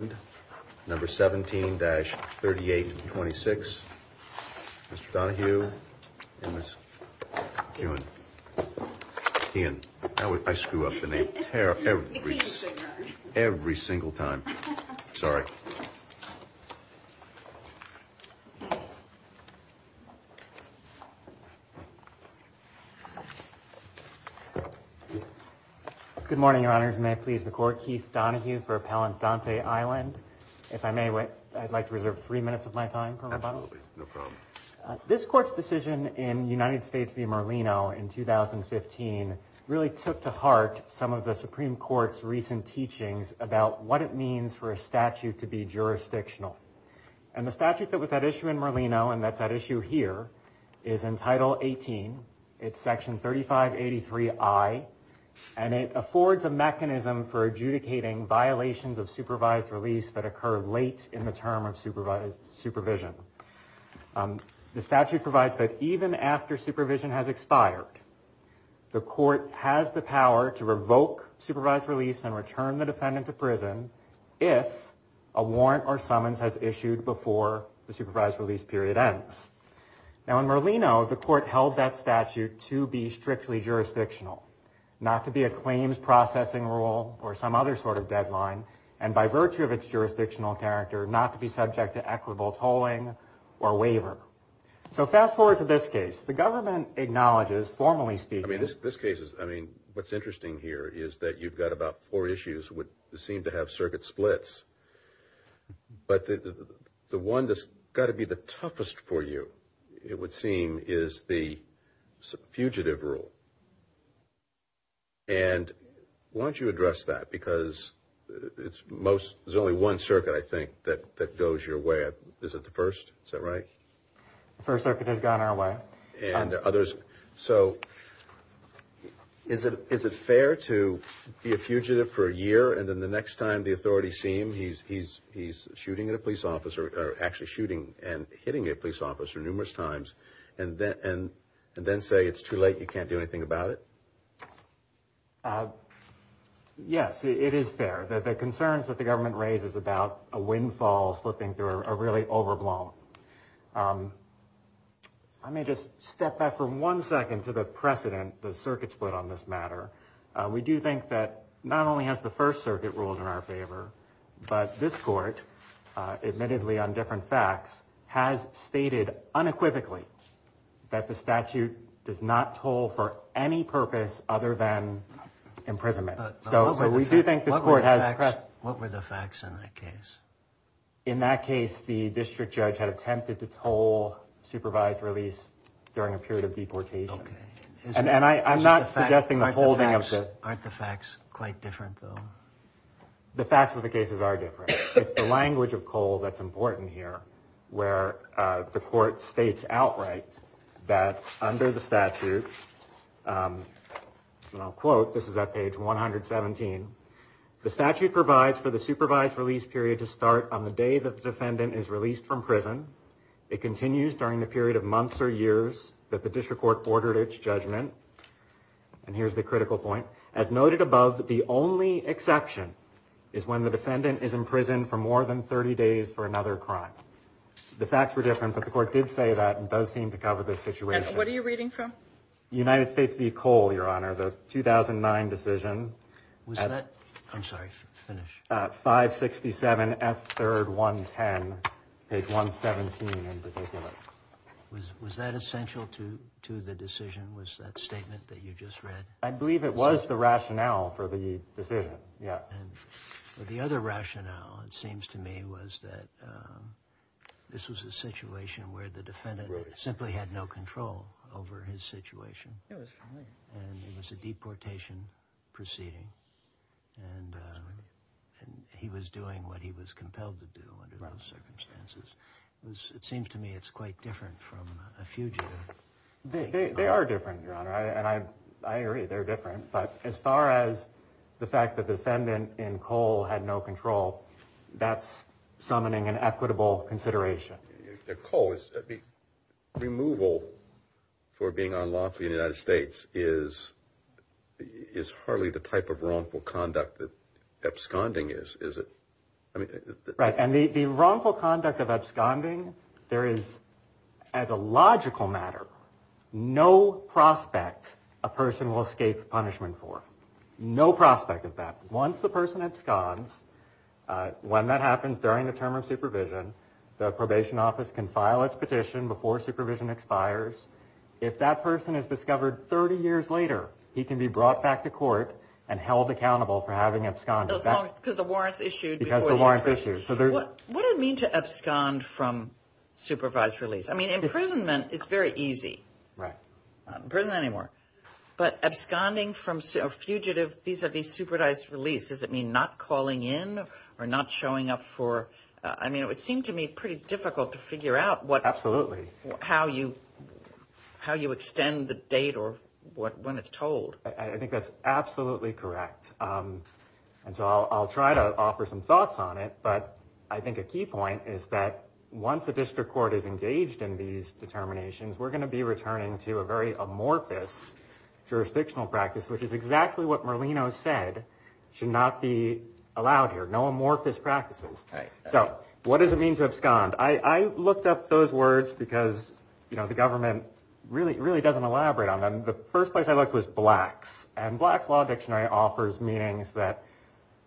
and number 17-3826. Mr. Donohue and Ms. Kuhn. Ian, I screw up in a pair every single time, sorry. Good morning, Your Honors, and may it please the Court, Keith Donohue for Appellant Donte Island. If I may, I'd like to reserve three minutes of my time for rebuttal. Absolutely, no problem. This Court's decision in United States v. Merlino in 2015 really took to heart some of the Supreme Court's recent teachings about what it means for a statute to be jurisdictional. And the statute that was at issue in Merlino and that's at issue here is in Title 18, it's Section 3583I, and it affords a mechanism for adjudicating violations of supervised release that occur late in the term of supervision. The statute provides that even after supervision has expired, the Court has the power to revoke supervised release and return the defendant to prison if a warrant or summons has issued before the supervised release period ends. Now in Merlino, the Court held that statute to be strictly jurisdictional, not to be a claims processing rule or some other sort of deadline, and by virtue of its jurisdictional character, not to be subject to equitable tolling or waiver. So fast forward to this case. The government acknowledges formally speaking. I mean, this case is, I mean, what's interesting here is that you've got about four issues that seem to have circuit splits, but the one that's got to be the toughest for you, it would seem, is the fugitive rule. And why don't you address that? Because it's most, there's only one circuit, I think, that goes your way. Is it the first? Is that right? The first circuit has gone our way. So is it fair to be a fugitive for a year, and then the next time the authorities see him, he's shooting at a police officer, or actually shooting and hitting a police officer numerous times, and then say it's too late, you can't do anything about it? Yes, it is fair. The concerns that the government raises about a windfall slipping through are really overblown. I may just step back for one second to the precedent the circuits put on this matter. We do think that not only has the first circuit ruled in our favor, but this court, admittedly on different facts, has stated unequivocally that the statute does not toll for any purpose other than imprisonment. What were the facts in that case? In that case, the district judge had attempted to toll supervised release during a period of deportation. Okay. And I'm not suggesting the holding of the... Aren't the facts quite different, though? The facts of the cases are different. It's the language of Cole that's important here, where the court states outright that under the statute, and I'll quote, this is at page 117, the statute provides for the supervised release period to start on the day that the defendant is released from prison. It continues during the period of months or years that the district court ordered its judgment. And here's the critical point. As noted above, the only exception is when the defendant is in prison for more than 30 days for another crime. The facts were different, but the court did say that and does seem to cover this situation. And what are you reading from? United States v. Cole, Your Honor, the 2009 decision. Was that... I'm sorry, finish. 567 F. 3rd 110, page 117 in particular. Was that essential to the decision? Was that statement that you just read? I believe it was the rationale for the decision, yeah. And the other rationale, it seems to me, was that this was a situation where the defendant simply had no control over his situation. It was. It was a deportation proceeding, and he was doing what he was compelled to do under those circumstances. It seems to me it's quite different from a fugitive. They are different, Your Honor, and I agree they're different. But as far as the fact that the defendant in Cole had no control, that's summoning an equitable consideration. Cole, removal for being unlawful in the United States is hardly the type of wrongful conduct that absconding is, is it? Right. And the wrongful conduct of absconding, there is, as a logical matter, no prospect a person will escape punishment for. No prospect of that. Once the person absconds, when that happens, during the term of supervision, the probation office can file its petition before supervision expires. If that person is discovered 30 years later, he can be brought back to court and held accountable for having absconded. Because the warrant's issued. Because the warrant's issued. What do you mean to abscond from supervised release? I mean, imprisonment is very easy. Right. Not in prison anymore. But absconding from fugitive vis-a-vis supervised release, does it mean not calling in or not showing up for, I mean, it would seem to me pretty difficult to figure out what. Absolutely. How you, how you extend the date or what, when it's told. I think that's absolutely correct. And so I'll try to offer some thoughts on it. But I think a key point is that once a district court is engaged in these determinations, we're going to be returning to a very amorphous jurisdictional practice, which is exactly what Merlino said should not be allowed here. No amorphous practices. So what does it mean to abscond? I looked up those words because, you know, the government really, really doesn't elaborate on them. The first place I looked was Black's. And Black's Law Dictionary offers meanings that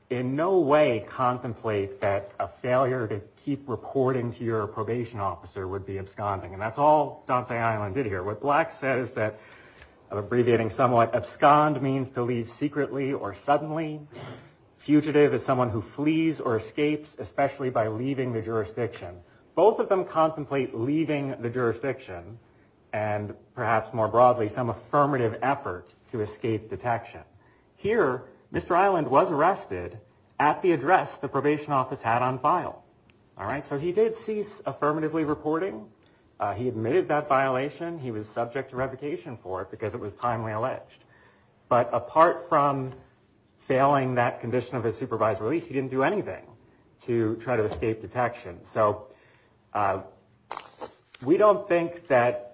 in no way contemplate that a failure to keep reporting to your probation officer would be absconding. And that's all Dante Island did here. What Black says that, abbreviating somewhat, abscond means to leave secretly or suddenly. Fugitive is someone who flees or escapes, especially by leaving the jurisdiction. Both of them contemplate leaving the jurisdiction and, perhaps more broadly, some affirmative effort to escape detection. Here, Mr. Island was arrested at the address the probation office had on file. All right? So he did cease affirmatively reporting. He admitted that violation. He was subject to revocation for it because it was timely alleged. But apart from failing that condition of his supervisory release, he didn't do anything to try to escape detection. So we don't think that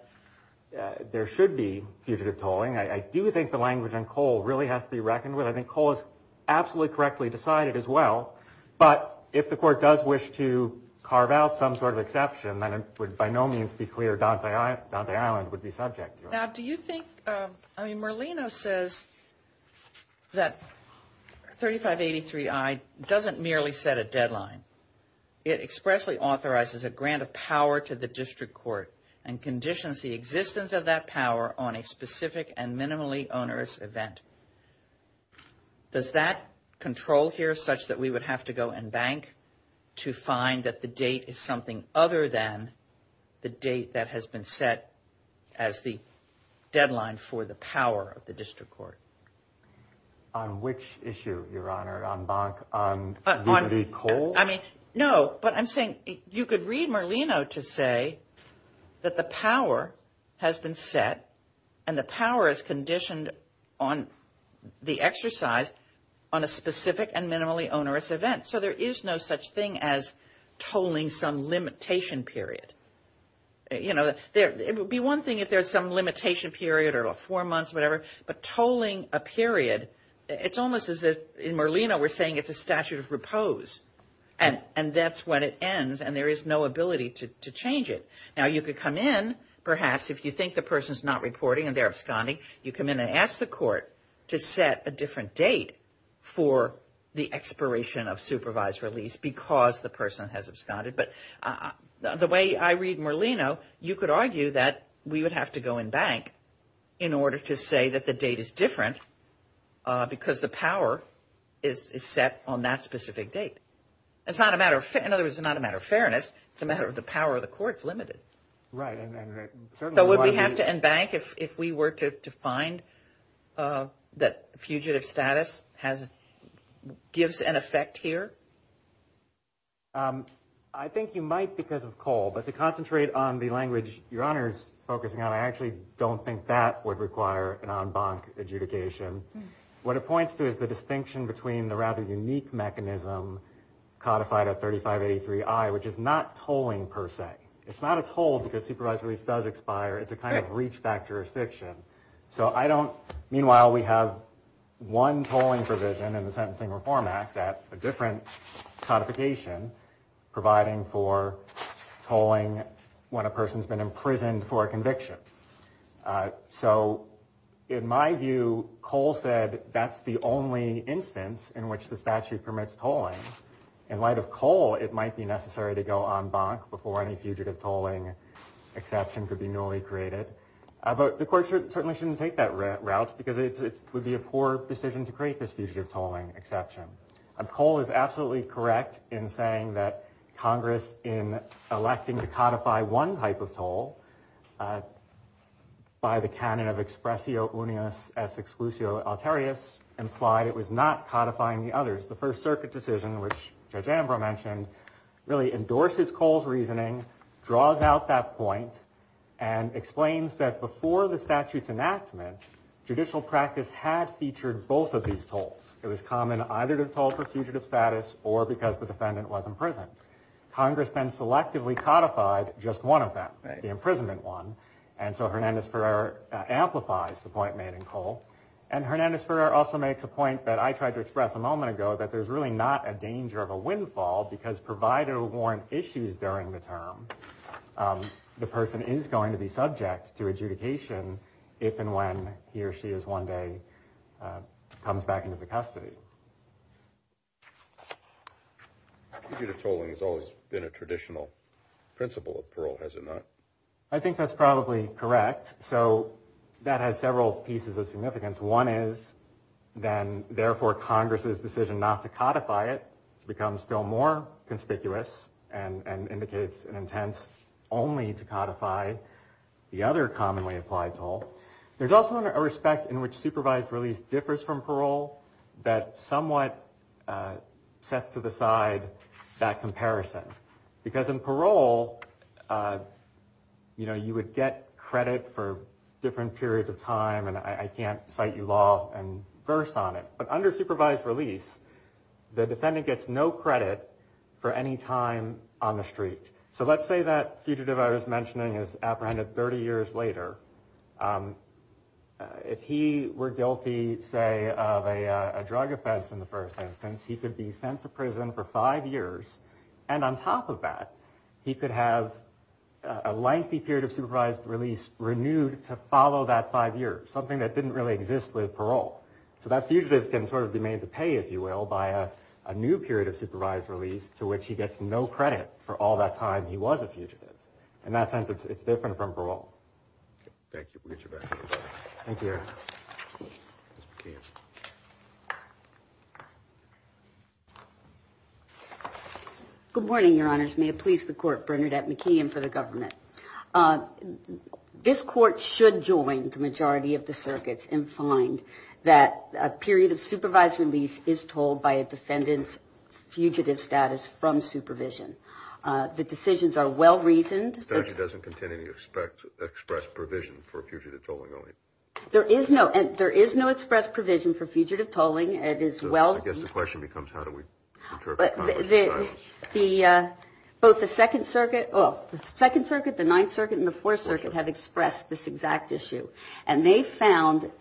there should be fugitive tolling. I do think the language on Cole really has to be reckoned with. I think Cole is absolutely correctly decided as well. But if the court does wish to carve out some sort of exception, then it would by no means be clear Dante Island would be subject to it. Now, do you think, I mean Merlino says that 3583I doesn't merely set a deadline. It expressly authorizes a grant of power to the district court and conditions the existence of that power on a specific and minimally onerous event. Does that control here such that we would have to go and bank to find that the date is something other than the date that has been set as the deadline for the power of the district court? On which issue, Your Honor, on bank, on Cole? I mean, no. But I'm saying you could read Merlino to say that the power has been set and the power is conditioned on the exercise on a specific and minimally onerous event. So there is no such thing as tolling some limitation period. You know, it would be one thing if there's some limitation period or four months, whatever. But tolling a period, it's almost as if in Merlino we're saying it's a statute of repose. And that's when it ends and there is no ability to change it. Now, you could come in perhaps if you think the person is not reporting and they're absconding. You come in and ask the court to set a different date for the expiration of supervised release because the person has absconded. But the way I read Merlino, you could argue that we would have to go in bank in order to say that the date is different because the power is set on that specific date. It's not a matter of – in other words, it's not a matter of fairness. It's a matter of the power of the court is limited. Right. So would we have to end bank if we were to find that fugitive status has – gives an effect here? I think you might because of Cole. But to concentrate on the language Your Honor is focusing on, I actually don't think that would require an en banc adjudication. What it points to is the distinction between the rather unique mechanism codified at 3583I, which is not tolling per se. It's not a toll because supervised release does expire. It's a kind of reach back jurisdiction. So I don't – meanwhile, we have one tolling provision in the Sentencing Reform Act at a different codification providing for tolling when a person has been imprisoned for a conviction. So in my view, Cole said that's the only instance in which the statute permits tolling. In light of Cole, it might be necessary to go en banc before any fugitive tolling exception could be newly created. But the court certainly shouldn't take that route because it would be a poor decision to create this fugitive tolling exception. Cole is absolutely correct in saying that Congress, in electing to codify one type of toll by the canon of expressio unius ex exclusio alterius, implied it was not codifying the others. The First Circuit decision, which Judge Ambrose mentioned, really endorses Cole's reasoning, draws out that point, and explains that before the statute's enactment, judicial practice had featured both of these tolls. It was common either to toll for fugitive status or because the defendant was imprisoned. Congress then selectively codified just one of them, the imprisonment one. And so Hernandez-Ferrer amplifies the point made in Cole. And Hernandez-Ferrer also makes a point that I tried to express a moment ago, that there's really not a danger of a windfall because provided a warrant issues during the term, the person is going to be subject to adjudication if and when he or she is one day comes back into the custody. Fugitive tolling has always been a traditional principle of parole, has it not? I think that's probably correct. So that has several pieces of significance. One is then, therefore, Congress's decision not to codify it becomes still more conspicuous and indicates an intent only to codify the other commonly applied toll. There's also a respect in which supervised release differs from parole that somewhat sets to the side that comparison. Because in parole, you would get credit for different periods of time. And I can't cite you law and verse on it. But under supervised release, the defendant gets no credit for any time on the street. So let's say that fugitive I was mentioning is apprehended 30 years later. If he were guilty, say, of a drug offense in the first instance, he could be sent to prison for five years. And on top of that, he could have a lengthy period of supervised release renewed to follow that five years, something that didn't really exist with parole. So that fugitive can sort of be made to pay, if you will, by a new period of supervised release to which he gets no credit for all that time he was a fugitive. In that sense, it's different from parole. Thank you. We'll get you back. Thank you. Ms. McKeon. Good morning, Your Honors. May it please the Court, Bernadette McKeon for the government. This Court should join the majority of the circuits and find that a period of supervised release is told by a defendant's fugitive status from supervision. The decisions are well-reasoned. The statute doesn't contain any express provision for fugitive tolling, only. There is no express provision for fugitive tolling. I guess the question becomes how do we interpret Congress's guidance. Both the Second Circuit, the Ninth Circuit, and the Fourth Circuit have expressed this exact issue. And they found,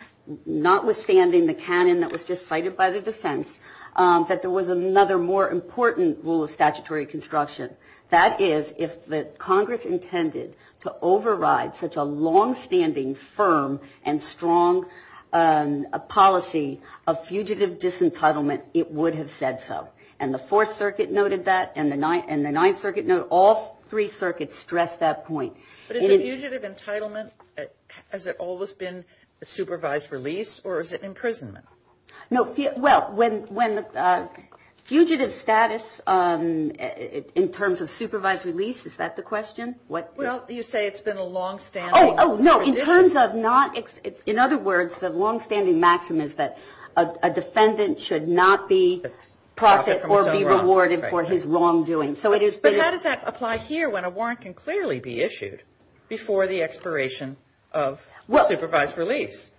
notwithstanding the canon that was just cited by the defense, that there was another more important rule of statutory construction. That is, if Congress intended to override such a longstanding, firm, and strong policy of fugitive disentitlement, it would have said so. And the Fourth Circuit noted that, and the Ninth Circuit noted that. All three circuits stressed that point. But is a fugitive entitlement, has it always been supervised release, or is it imprisonment? No. Well, when fugitive status in terms of supervised release, is that the question? Well, you say it's been a longstanding. Oh, no. In terms of not, in other words, the longstanding maxim is that a defendant should not be profited or be rewarded for his wrongdoing. So it is. But how does that apply here when a warrant can clearly be issued before the expiration of supervised release?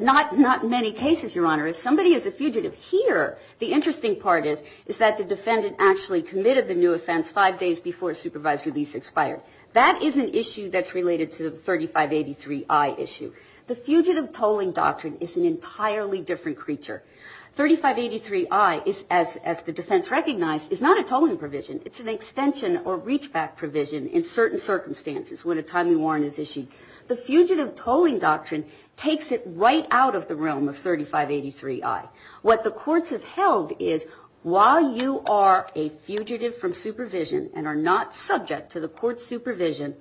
Not in many cases, Your Honor. If somebody is a fugitive here, the interesting part is, is that the defendant actually committed the new offense five days before supervised release expired. That is an issue that's related to the 3583I issue. The fugitive tolling doctrine is an entirely different creature. 3583I, as the defense recognized, is not a tolling provision. It's an extension or reachback provision in certain circumstances when a timely warrant is issued. The fugitive tolling doctrine takes it right out of the realm of 3583I. What the courts have held is while you are a fugitive from supervision and are not subject to the court's supervision,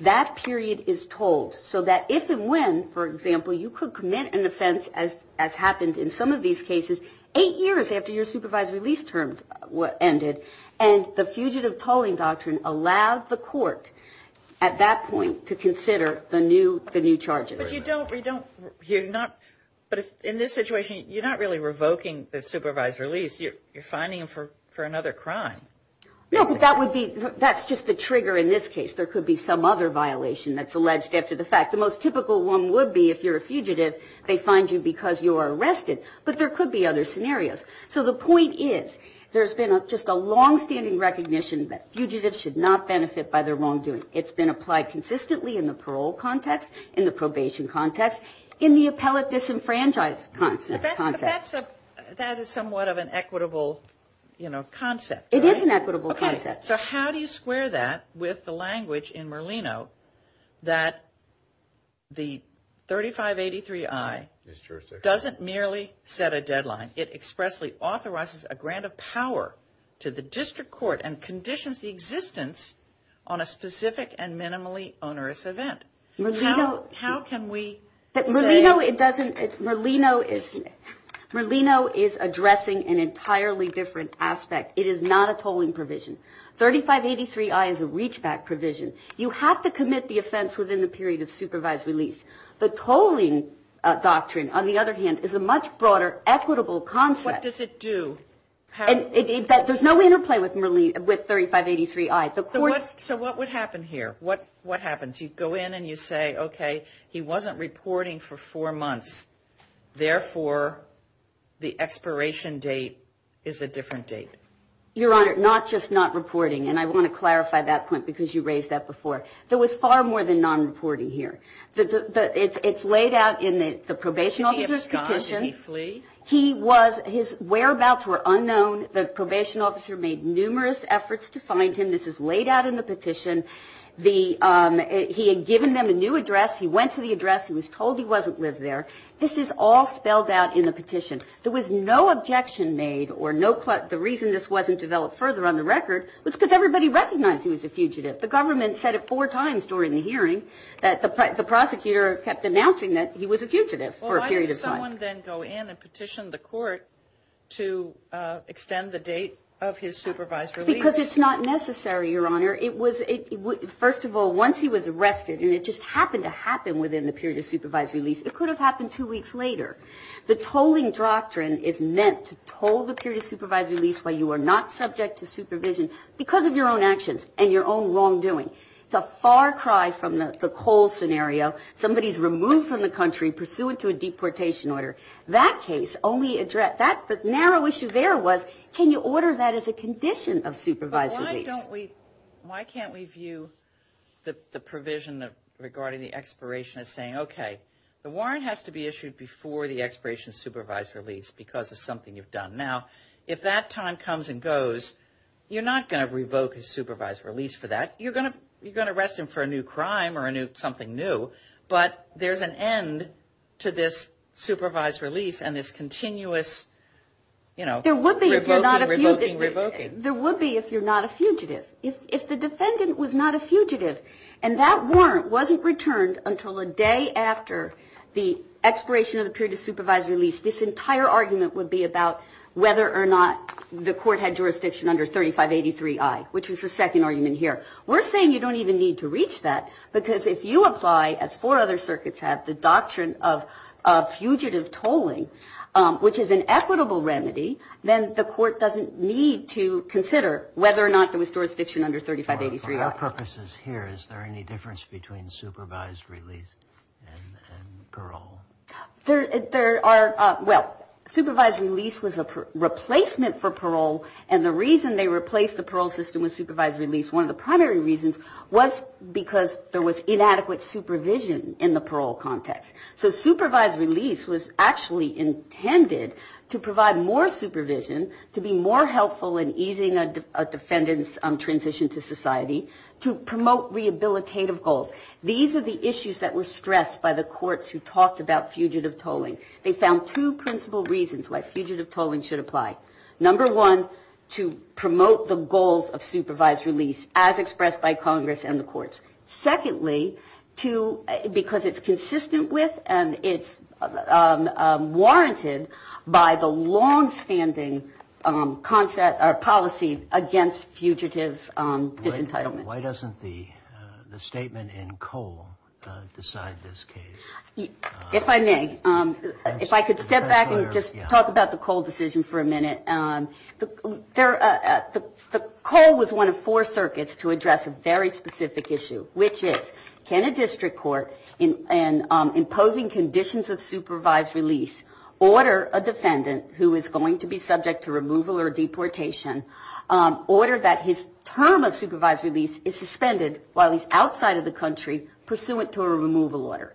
that period is tolled. So that if and when, for example, you could commit an offense, as happened in some of these cases, eight years after your supervised release term ended, and the fugitive tolling doctrine allowed the court at that point to consider the new charges. But you don't, you're not, but in this situation, you're not really revoking the supervised release. You're fining him for another crime. No, but that would be, that's just the trigger in this case. There could be some other violation that's alleged after the fact. The most typical one would be if you're a fugitive, they find you because you are arrested. But there could be other scenarios. So the point is there's been just a longstanding recognition that fugitives should not benefit by their wrongdoing. It's been applied consistently in the parole context, in the probation context, in the appellate disenfranchised concept. But that's a, that is somewhat of an equitable, you know, concept. It is an equitable concept. So how do you square that with the language in Merlino that the 3583I doesn't merely set a deadline. It expressly authorizes a grant of power to the district court and conditions the existence on a specific and minimally onerous event. How can we say? Merlino, it doesn't, Merlino is, Merlino is addressing an entirely different aspect. It is not a tolling provision. 3583I is a reachback provision. You have to commit the offense within the period of supervised release. The tolling doctrine, on the other hand, is a much broader equitable concept. What does it do? There's no interplay with 3583I. So what would happen here? What happens? You go in and you say, okay, he wasn't reporting for four months. Therefore, the expiration date is a different date. Your Honor, not just not reporting. And I want to clarify that point because you raised that before. There was far more than nonreporting here. It's laid out in the probation officer's petition. Did he abscond? Did he flee? He was, his whereabouts were unknown. The probation officer made numerous efforts to find him. This is laid out in the petition. He had given them a new address. He went to the address. He was told he wasn't lived there. This is all spelled out in the petition. There was no objection made or no, the reason this wasn't developed further on the record was because everybody recognized he was a fugitive. The government said it four times during the hearing, that the prosecutor kept announcing that he was a fugitive for a period of time. Well, why did someone then go in and petition the court to extend the date of his supervised release? Because it's not necessary, Your Honor. First of all, once he was arrested, and it just happened to happen within the period of supervised release, it could have happened two weeks later. The tolling doctrine is meant to toll the period of supervised release while you are not subject to supervision because of your own actions and your own wrongdoing. It's a far cry from the Cole scenario. Somebody is removed from the country pursuant to a deportation order. That case only addressed that. The narrow issue there was can you order that as a condition of supervised release? But why don't we, why can't we view the provision regarding the expiration as saying, okay, the warrant has to be issued before the expiration of supervised release because of something you've done. Now, if that time comes and goes, you're not going to revoke his supervised release for that. You're going to arrest him for a new crime or something new, but there's an end to this supervised release and this continuous, you know, revoking, revoking, revoking. There would be if you're not a fugitive. If the defendant was not a fugitive and that warrant wasn't returned until a day after the expiration of the period of supervised release, this entire argument would be about whether or not the court had jurisdiction under 3583I, which is the second argument here. We're saying you don't even need to reach that because if you apply, as four other circuits have, the doctrine of fugitive tolling, which is an equitable remedy, then the court doesn't need to consider whether or not there was jurisdiction under 3583I. For our purposes here, is there any difference between supervised release and parole? Well, supervised release was a replacement for parole, and the reason they replaced the parole system with supervised release, one of the primary reasons was because there was inadequate supervision in the parole context. So supervised release was actually intended to provide more supervision, to be more helpful in easing a defendant's transition to society, to promote rehabilitative goals. These are the issues that were stressed by the courts who talked about fugitive tolling. They found two principal reasons why fugitive tolling should apply. Number one, to promote the goals of supervised release, as expressed by Congress and the courts. Secondly, because it's consistent with and it's warranted by the longstanding policy against fugitive disentitlement. Why doesn't the statement in Cole decide this case? If I may, if I could step back and just talk about the Cole decision for a minute. The Cole was one of four circuits to address a very specific issue, which is can a district court in imposing conditions of supervised release order a defendant who is going to be subject to removal or deportation, order that his term of supervised release is suspended while he's outside of the country, pursuant to a removal order.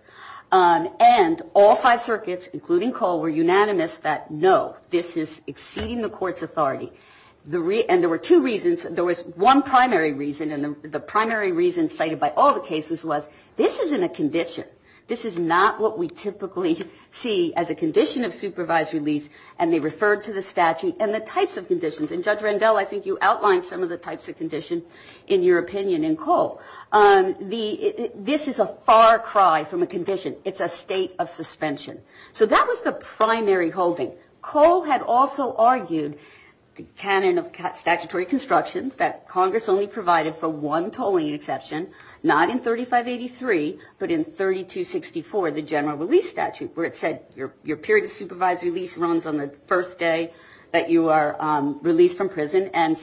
And all five circuits, including Cole, were unanimous that no, this is exceeding the court's authority. And there were two reasons. There was one primary reason, and the primary reason cited by all the cases was this isn't a condition. This is not what we typically see as a condition of supervised release. And they referred to the statute and the types of conditions. And Judge Rendell, I think you outlined some of the types of conditions in your opinion in Cole. This is a far cry from a condition. It's a state of suspension. So that was the primary holding. Cole had also argued the canon of statutory construction that Congress only provided for one tolling exception, not in 3583, but in 3264, the general release statute, where it said your period of supervised release runs on the first day that you are released from prison and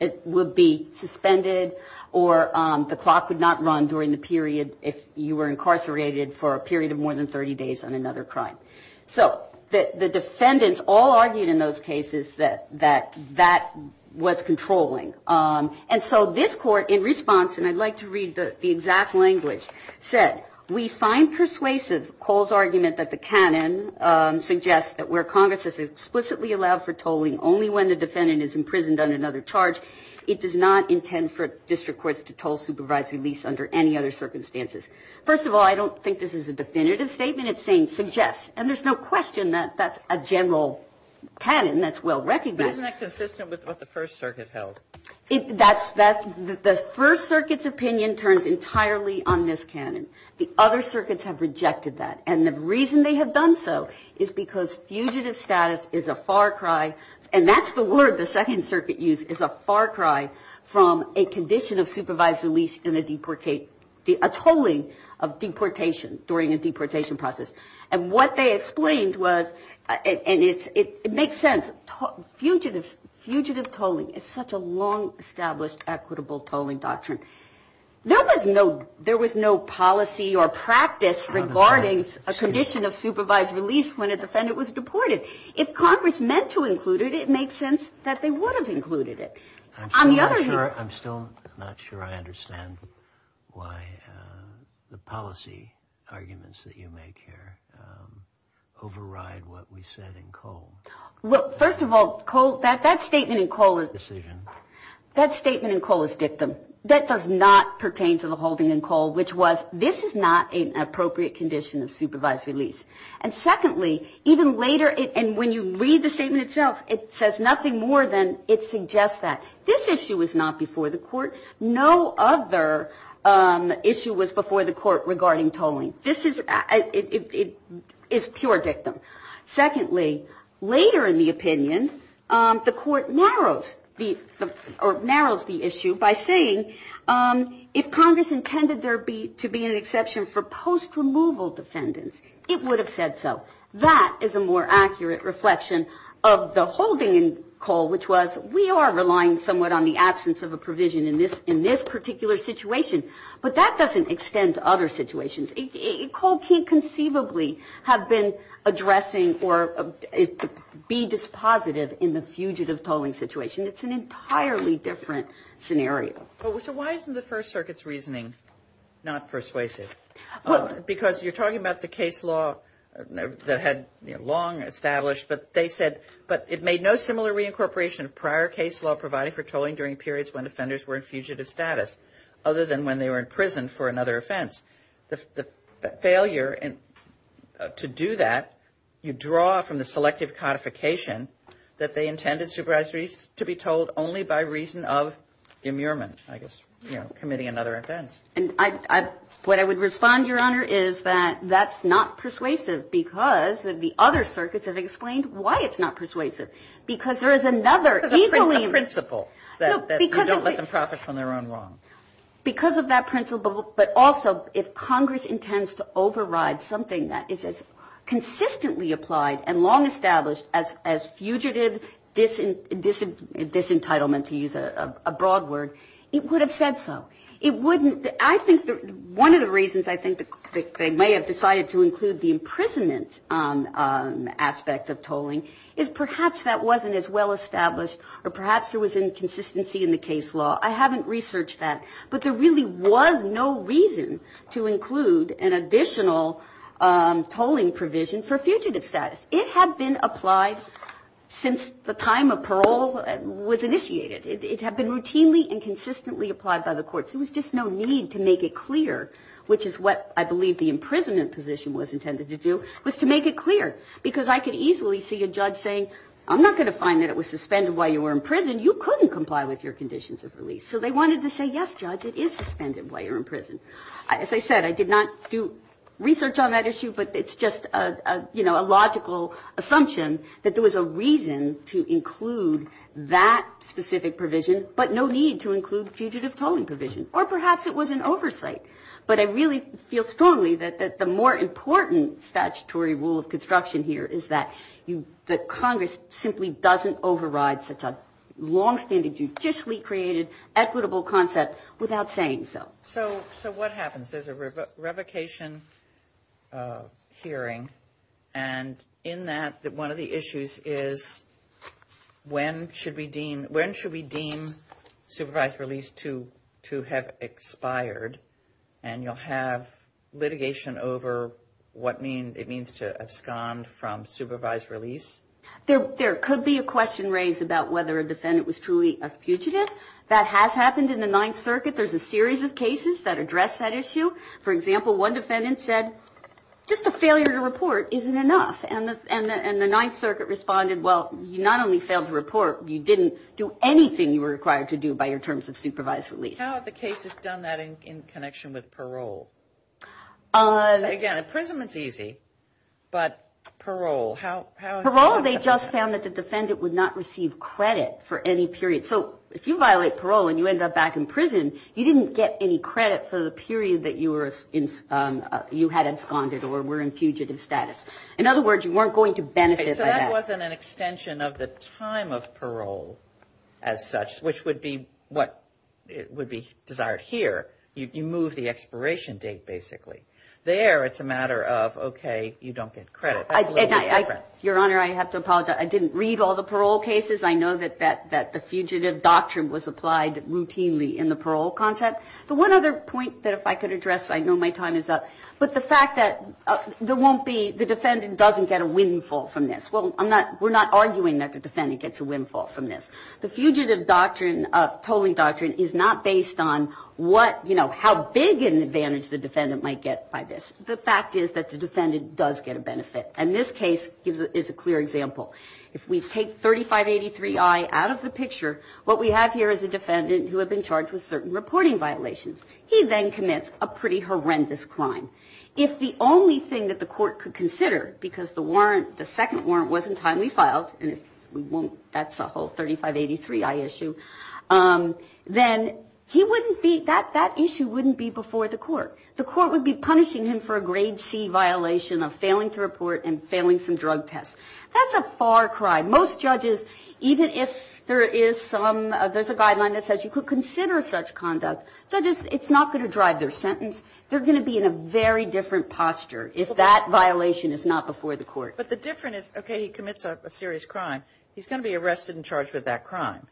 it would be suspended or the clock would not run during the period if you were incarcerated for a period of more than 30 days on another crime. So the defendants all argued in those cases that that was controlling. And so this court in response, and I'd like to read the exact language, said, we find persuasive Cole's argument that the canon suggests that where Congress has explicitly allowed for tolling only when the defendant is imprisoned under another charge, it does not intend for district courts to toll supervisory release under any other circumstances. First of all, I don't think this is a definitive statement. It's saying suggests. And there's no question that that's a general canon that's well recognized. But isn't that consistent with what the First Circuit held? That's the First Circuit's opinion turns entirely on this canon. The other circuits have rejected that. And the reason they have done so is because fugitive status is a far cry, and that's the word the Second Circuit used, is a far cry from a condition of supervised release in a deportation, a tolling of deportation during a deportation process. And what they explained was, and it makes sense, fugitive tolling is such a long established equitable tolling doctrine. There was no policy or practice regarding a condition of supervised release when a defendant was deported. If Congress meant to include it, it makes sense that they would have included it. I'm still not sure I understand why the policy arguments that you make here override what we said in Cole. Well, first of all, Cole, that statement in Cole is dictum. That does not pertain to the holding in Cole, which was this is not an appropriate condition of supervised release. And secondly, even later, and when you read the statement itself, it says nothing more than it suggests that. This issue was not before the court. No other issue was before the court regarding tolling. This is pure dictum. Secondly, later in the opinion, the court narrows the issue by saying if Congress intended there to be an exception for post-removal defendants, it would have said so. That is a more accurate reflection of the holding in Cole, which was we are relying somewhat on the absence of a provision in this particular situation. But that doesn't extend to other situations. Cole can't conceivably have been addressing or be dispositive in the fugitive tolling situation. It's an entirely different scenario. So why isn't the First Circuit's reasoning not persuasive? Because you're talking about the case law that had long established, but they said, but it made no similar reincorporation of prior case law providing for tolling during periods when offenders were in fugitive status, other than when they were in prison for another offense. The failure to do that, you draw from the selective codification that they intended supervised release to be tolled only by reason of immurement, I guess, committing another offense. And what I would respond, Your Honor, is that that's not persuasive because the other circuits have explained why it's not persuasive. Because there is another equally ---- A principle that you don't let them profit from their own wrong. Because of that principle, but also if Congress intends to override something that is as consistently applied and long established as fugitive disentitlement, to use a broad word, it would have said so. It wouldn't ---- I think one of the reasons I think they may have decided to include the imprisonment aspect of tolling is perhaps that wasn't as well established or perhaps there was inconsistency in the case law. I haven't researched that. But there really was no reason to include an additional tolling provision for fugitive status. It had been applied since the time of parole was initiated. It had been routinely and consistently applied by the courts. There was just no need to make it clear, which is what I believe the imprisonment position was intended to do, was to make it clear. Because I could easily see a judge saying, I'm not going to find that it was suspended while you were in prison. You couldn't comply with your conditions of release. So they wanted to say, yes, Judge, it is suspended while you're in prison. As I said, I did not do research on that issue, but it's just a, you know, a logical assumption that there was a reason to include that specific provision, but no need to include fugitive tolling provision. Or perhaps it was an oversight. But I really feel strongly that the more important statutory rule of construction here is that Congress simply doesn't override such a longstanding, judicially created, equitable concept without saying so. So what happens? There's a revocation hearing. And in that, one of the issues is when should we deem supervised release to have expired? And you'll have litigation over what it means to abscond from supervised release? There could be a question raised about whether a defendant was truly a fugitive. That has happened in the Ninth Circuit. There's a series of cases that address that issue. For example, one defendant said, just a failure to report isn't enough. And the Ninth Circuit responded, well, you not only failed to report, you didn't do anything you were required to do by your terms of supervised release. How have the cases done that in connection with parole? Again, imprisonment's easy, but parole. Parole, they just found that the defendant would not receive credit for any period. So if you violate parole and you end up back in prison, you didn't get any credit for the period that you had absconded or were in fugitive status. In other words, you weren't going to benefit by that. So that wasn't an extension of the time of parole as such, which would be what would be desired here. You move the expiration date, basically. There, it's a matter of, okay, you don't get credit. Your Honor, I have to apologize. I didn't read all the parole cases. I know that the fugitive doctrine was applied routinely in the parole concept. The one other point that if I could address, I know my time is up, but the fact that there won't be, the defendant doesn't get a windfall from this. Well, I'm not, we're not arguing that the defendant gets a windfall from this. The fugitive doctrine of tolling doctrine is not based on what, you know, how big an advantage the defendant might get by this. The fact is that the defendant does get a benefit. And this case is a clear example. If we take 3583I out of the picture, what we have here is a defendant who had been charged with certain reporting violations. He then commits a pretty horrendous crime. If the only thing that the court could consider, because the warrant, the second warrant, wasn't timely filed, and if we won't, that's a whole 3583I issue, then he wouldn't be, that issue wouldn't be before the court. The court would be punishing him for a grade C violation of failing to report and failing some drug tests. That's a far cry. Most judges, even if there is some, there's a guideline that says you could consider such conduct, judges, it's not going to drive their sentence. They're going to be in a very different posture if that violation is not before the court. But the difference is, okay, he commits a serious crime. He's going to be arrested and charged with that crime.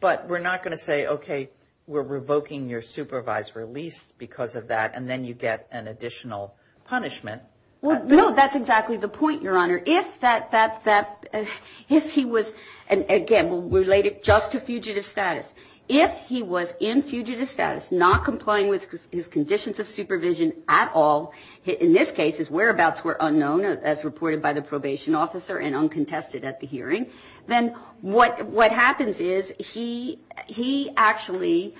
But we're not going to say, okay, we're revoking your supervised release because of that, and then you get an additional punishment. Well, no, that's exactly the point, Your Honor. If that, if he was, again, we'll relate it just to fugitive status. If he was in fugitive status, not complying with his conditions of supervision at all, in this case his whereabouts were unknown as reported by the probation officer and uncontested at the hearing, then what happens is he actually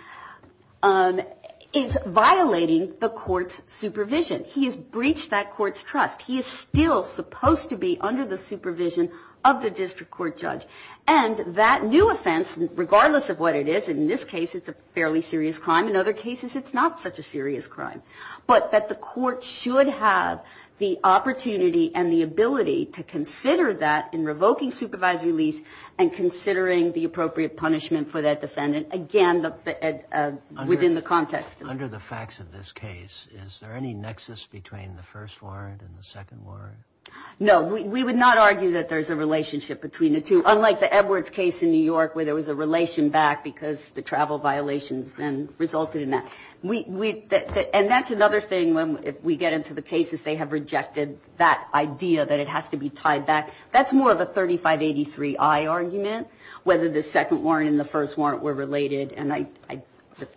is violating the court's supervision. He has breached that court's trust. He is still supposed to be under the supervision of the district court judge. And that new offense, regardless of what it is, in this case it's a fairly serious crime, in other cases it's not such a serious crime, but that the court should have the opportunity and the ability to consider that in revoking supervised release and considering the appropriate punishment for that defendant, again, within the context of it. But under the facts of this case, is there any nexus between the first warrant and the second warrant? No. We would not argue that there's a relationship between the two, unlike the Edwards case in New York where there was a relation back because the travel violations then resulted in that. And that's another thing when we get into the cases, they have rejected that idea that it has to be tied back. That's more of a 3583I argument, whether the second warrant and the first warrant were related, and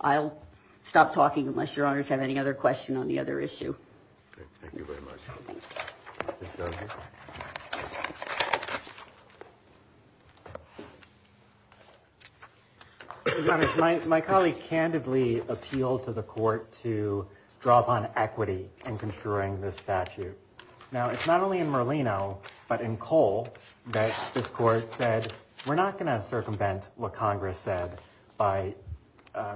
I'll stop talking unless your honors have any other question on the other issue. Thank you very much. My colleague candidly appealed to the court to draw upon equity in construing this statute. Now, it's not only in Merlino but in Cole that this court said, we're not going to circumvent what Congress said by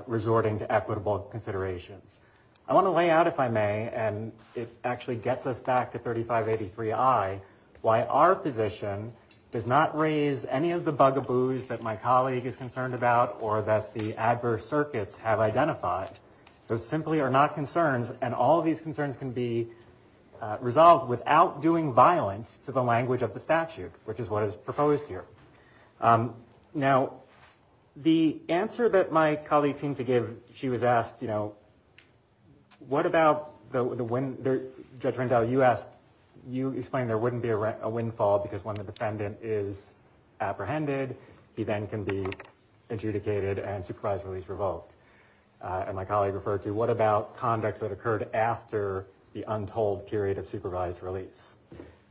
resorting to equitable considerations. I want to lay out, if I may, and it actually gets us back to 3583I, why our position does not raise any of the bugaboos that my colleague is concerned about or that the adverse circuits have identified. Those simply are not concerns, and all of these concerns can be resolved without doing violence to the language of the statute, which is what is proposed here. Now, the answer that my colleague seemed to give, she was asked, what about the wind, Judge Rendell, you asked, you explained there wouldn't be a windfall because when the defendant is apprehended, he then can be adjudicated and supervised release revoked. And my colleague referred to, what about conducts that occurred after the untold period of supervised release?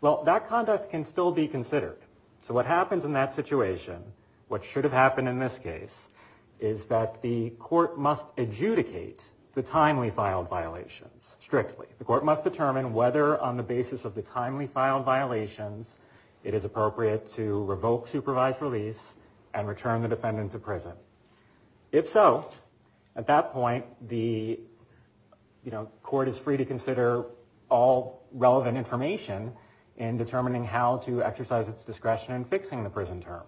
Well, that conduct can still be considered. So what happens in that situation, what should have happened in this case, is that the court must adjudicate the timely filed violations strictly. The court must determine whether on the basis of the timely filed violations, it is appropriate to revoke supervised release and return the defendant to prison. If so, at that point, the court is free to consider all relevant information in determining how to exercise its discretion in fixing the prison term.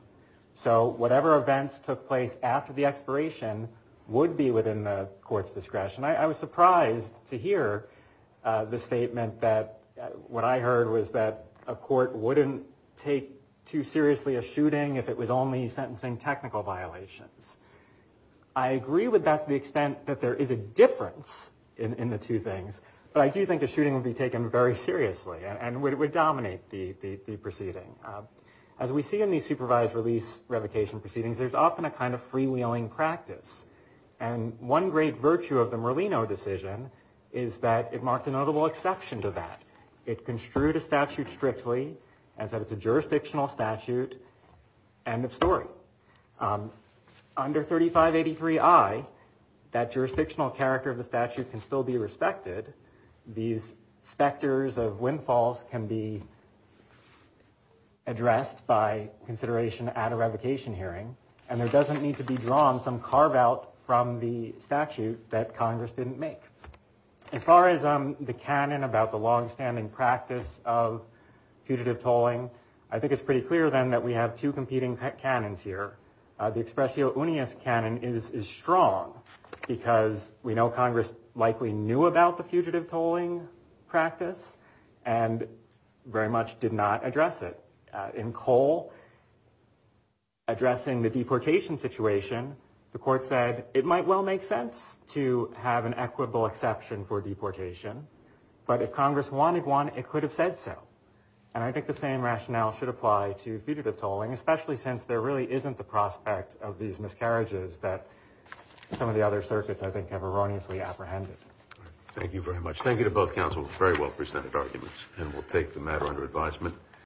So whatever events took place after the expiration would be within the court's discretion. I was surprised to hear the statement that, what I heard was that a court wouldn't take too seriously a shooting if it was only sentencing technical violations. I agree with that to the extent that there is a difference in the two things. But I do think a shooting would be taken very seriously and would dominate the proceeding. As we see in these supervised release revocation proceedings, there's often a kind of freewheeling practice. And one great virtue of the Merlino decision is that it marked a notable exception to that. It construed a statute strictly and said it's a jurisdictional statute. End of story. Under 3583I, that jurisdictional character of the statute can still be respected. These specters of windfalls can be addressed by consideration at a revocation hearing. And there doesn't need to be drawn some carve-out from the statute that Congress didn't make. As far as the canon about the longstanding practice of putative tolling, I think it's pretty clear, then, that we have two competing canons here. The expressio unius canon is strong because we know Congress likely knew about the fugitive tolling practice and very much did not address it. In Cole, addressing the deportation situation, the court said, it might well make sense to have an equitable exception for deportation, but if Congress wanted one, it could have said so. And I think the same rationale should apply to fugitive tolling, especially since there really isn't the prospect of these miscarriages that some of the other circuits, I think, have erroneously apprehended. Thank you very much. Thank you to both counsels. Very well presented arguments. And we'll take the matter under advisement.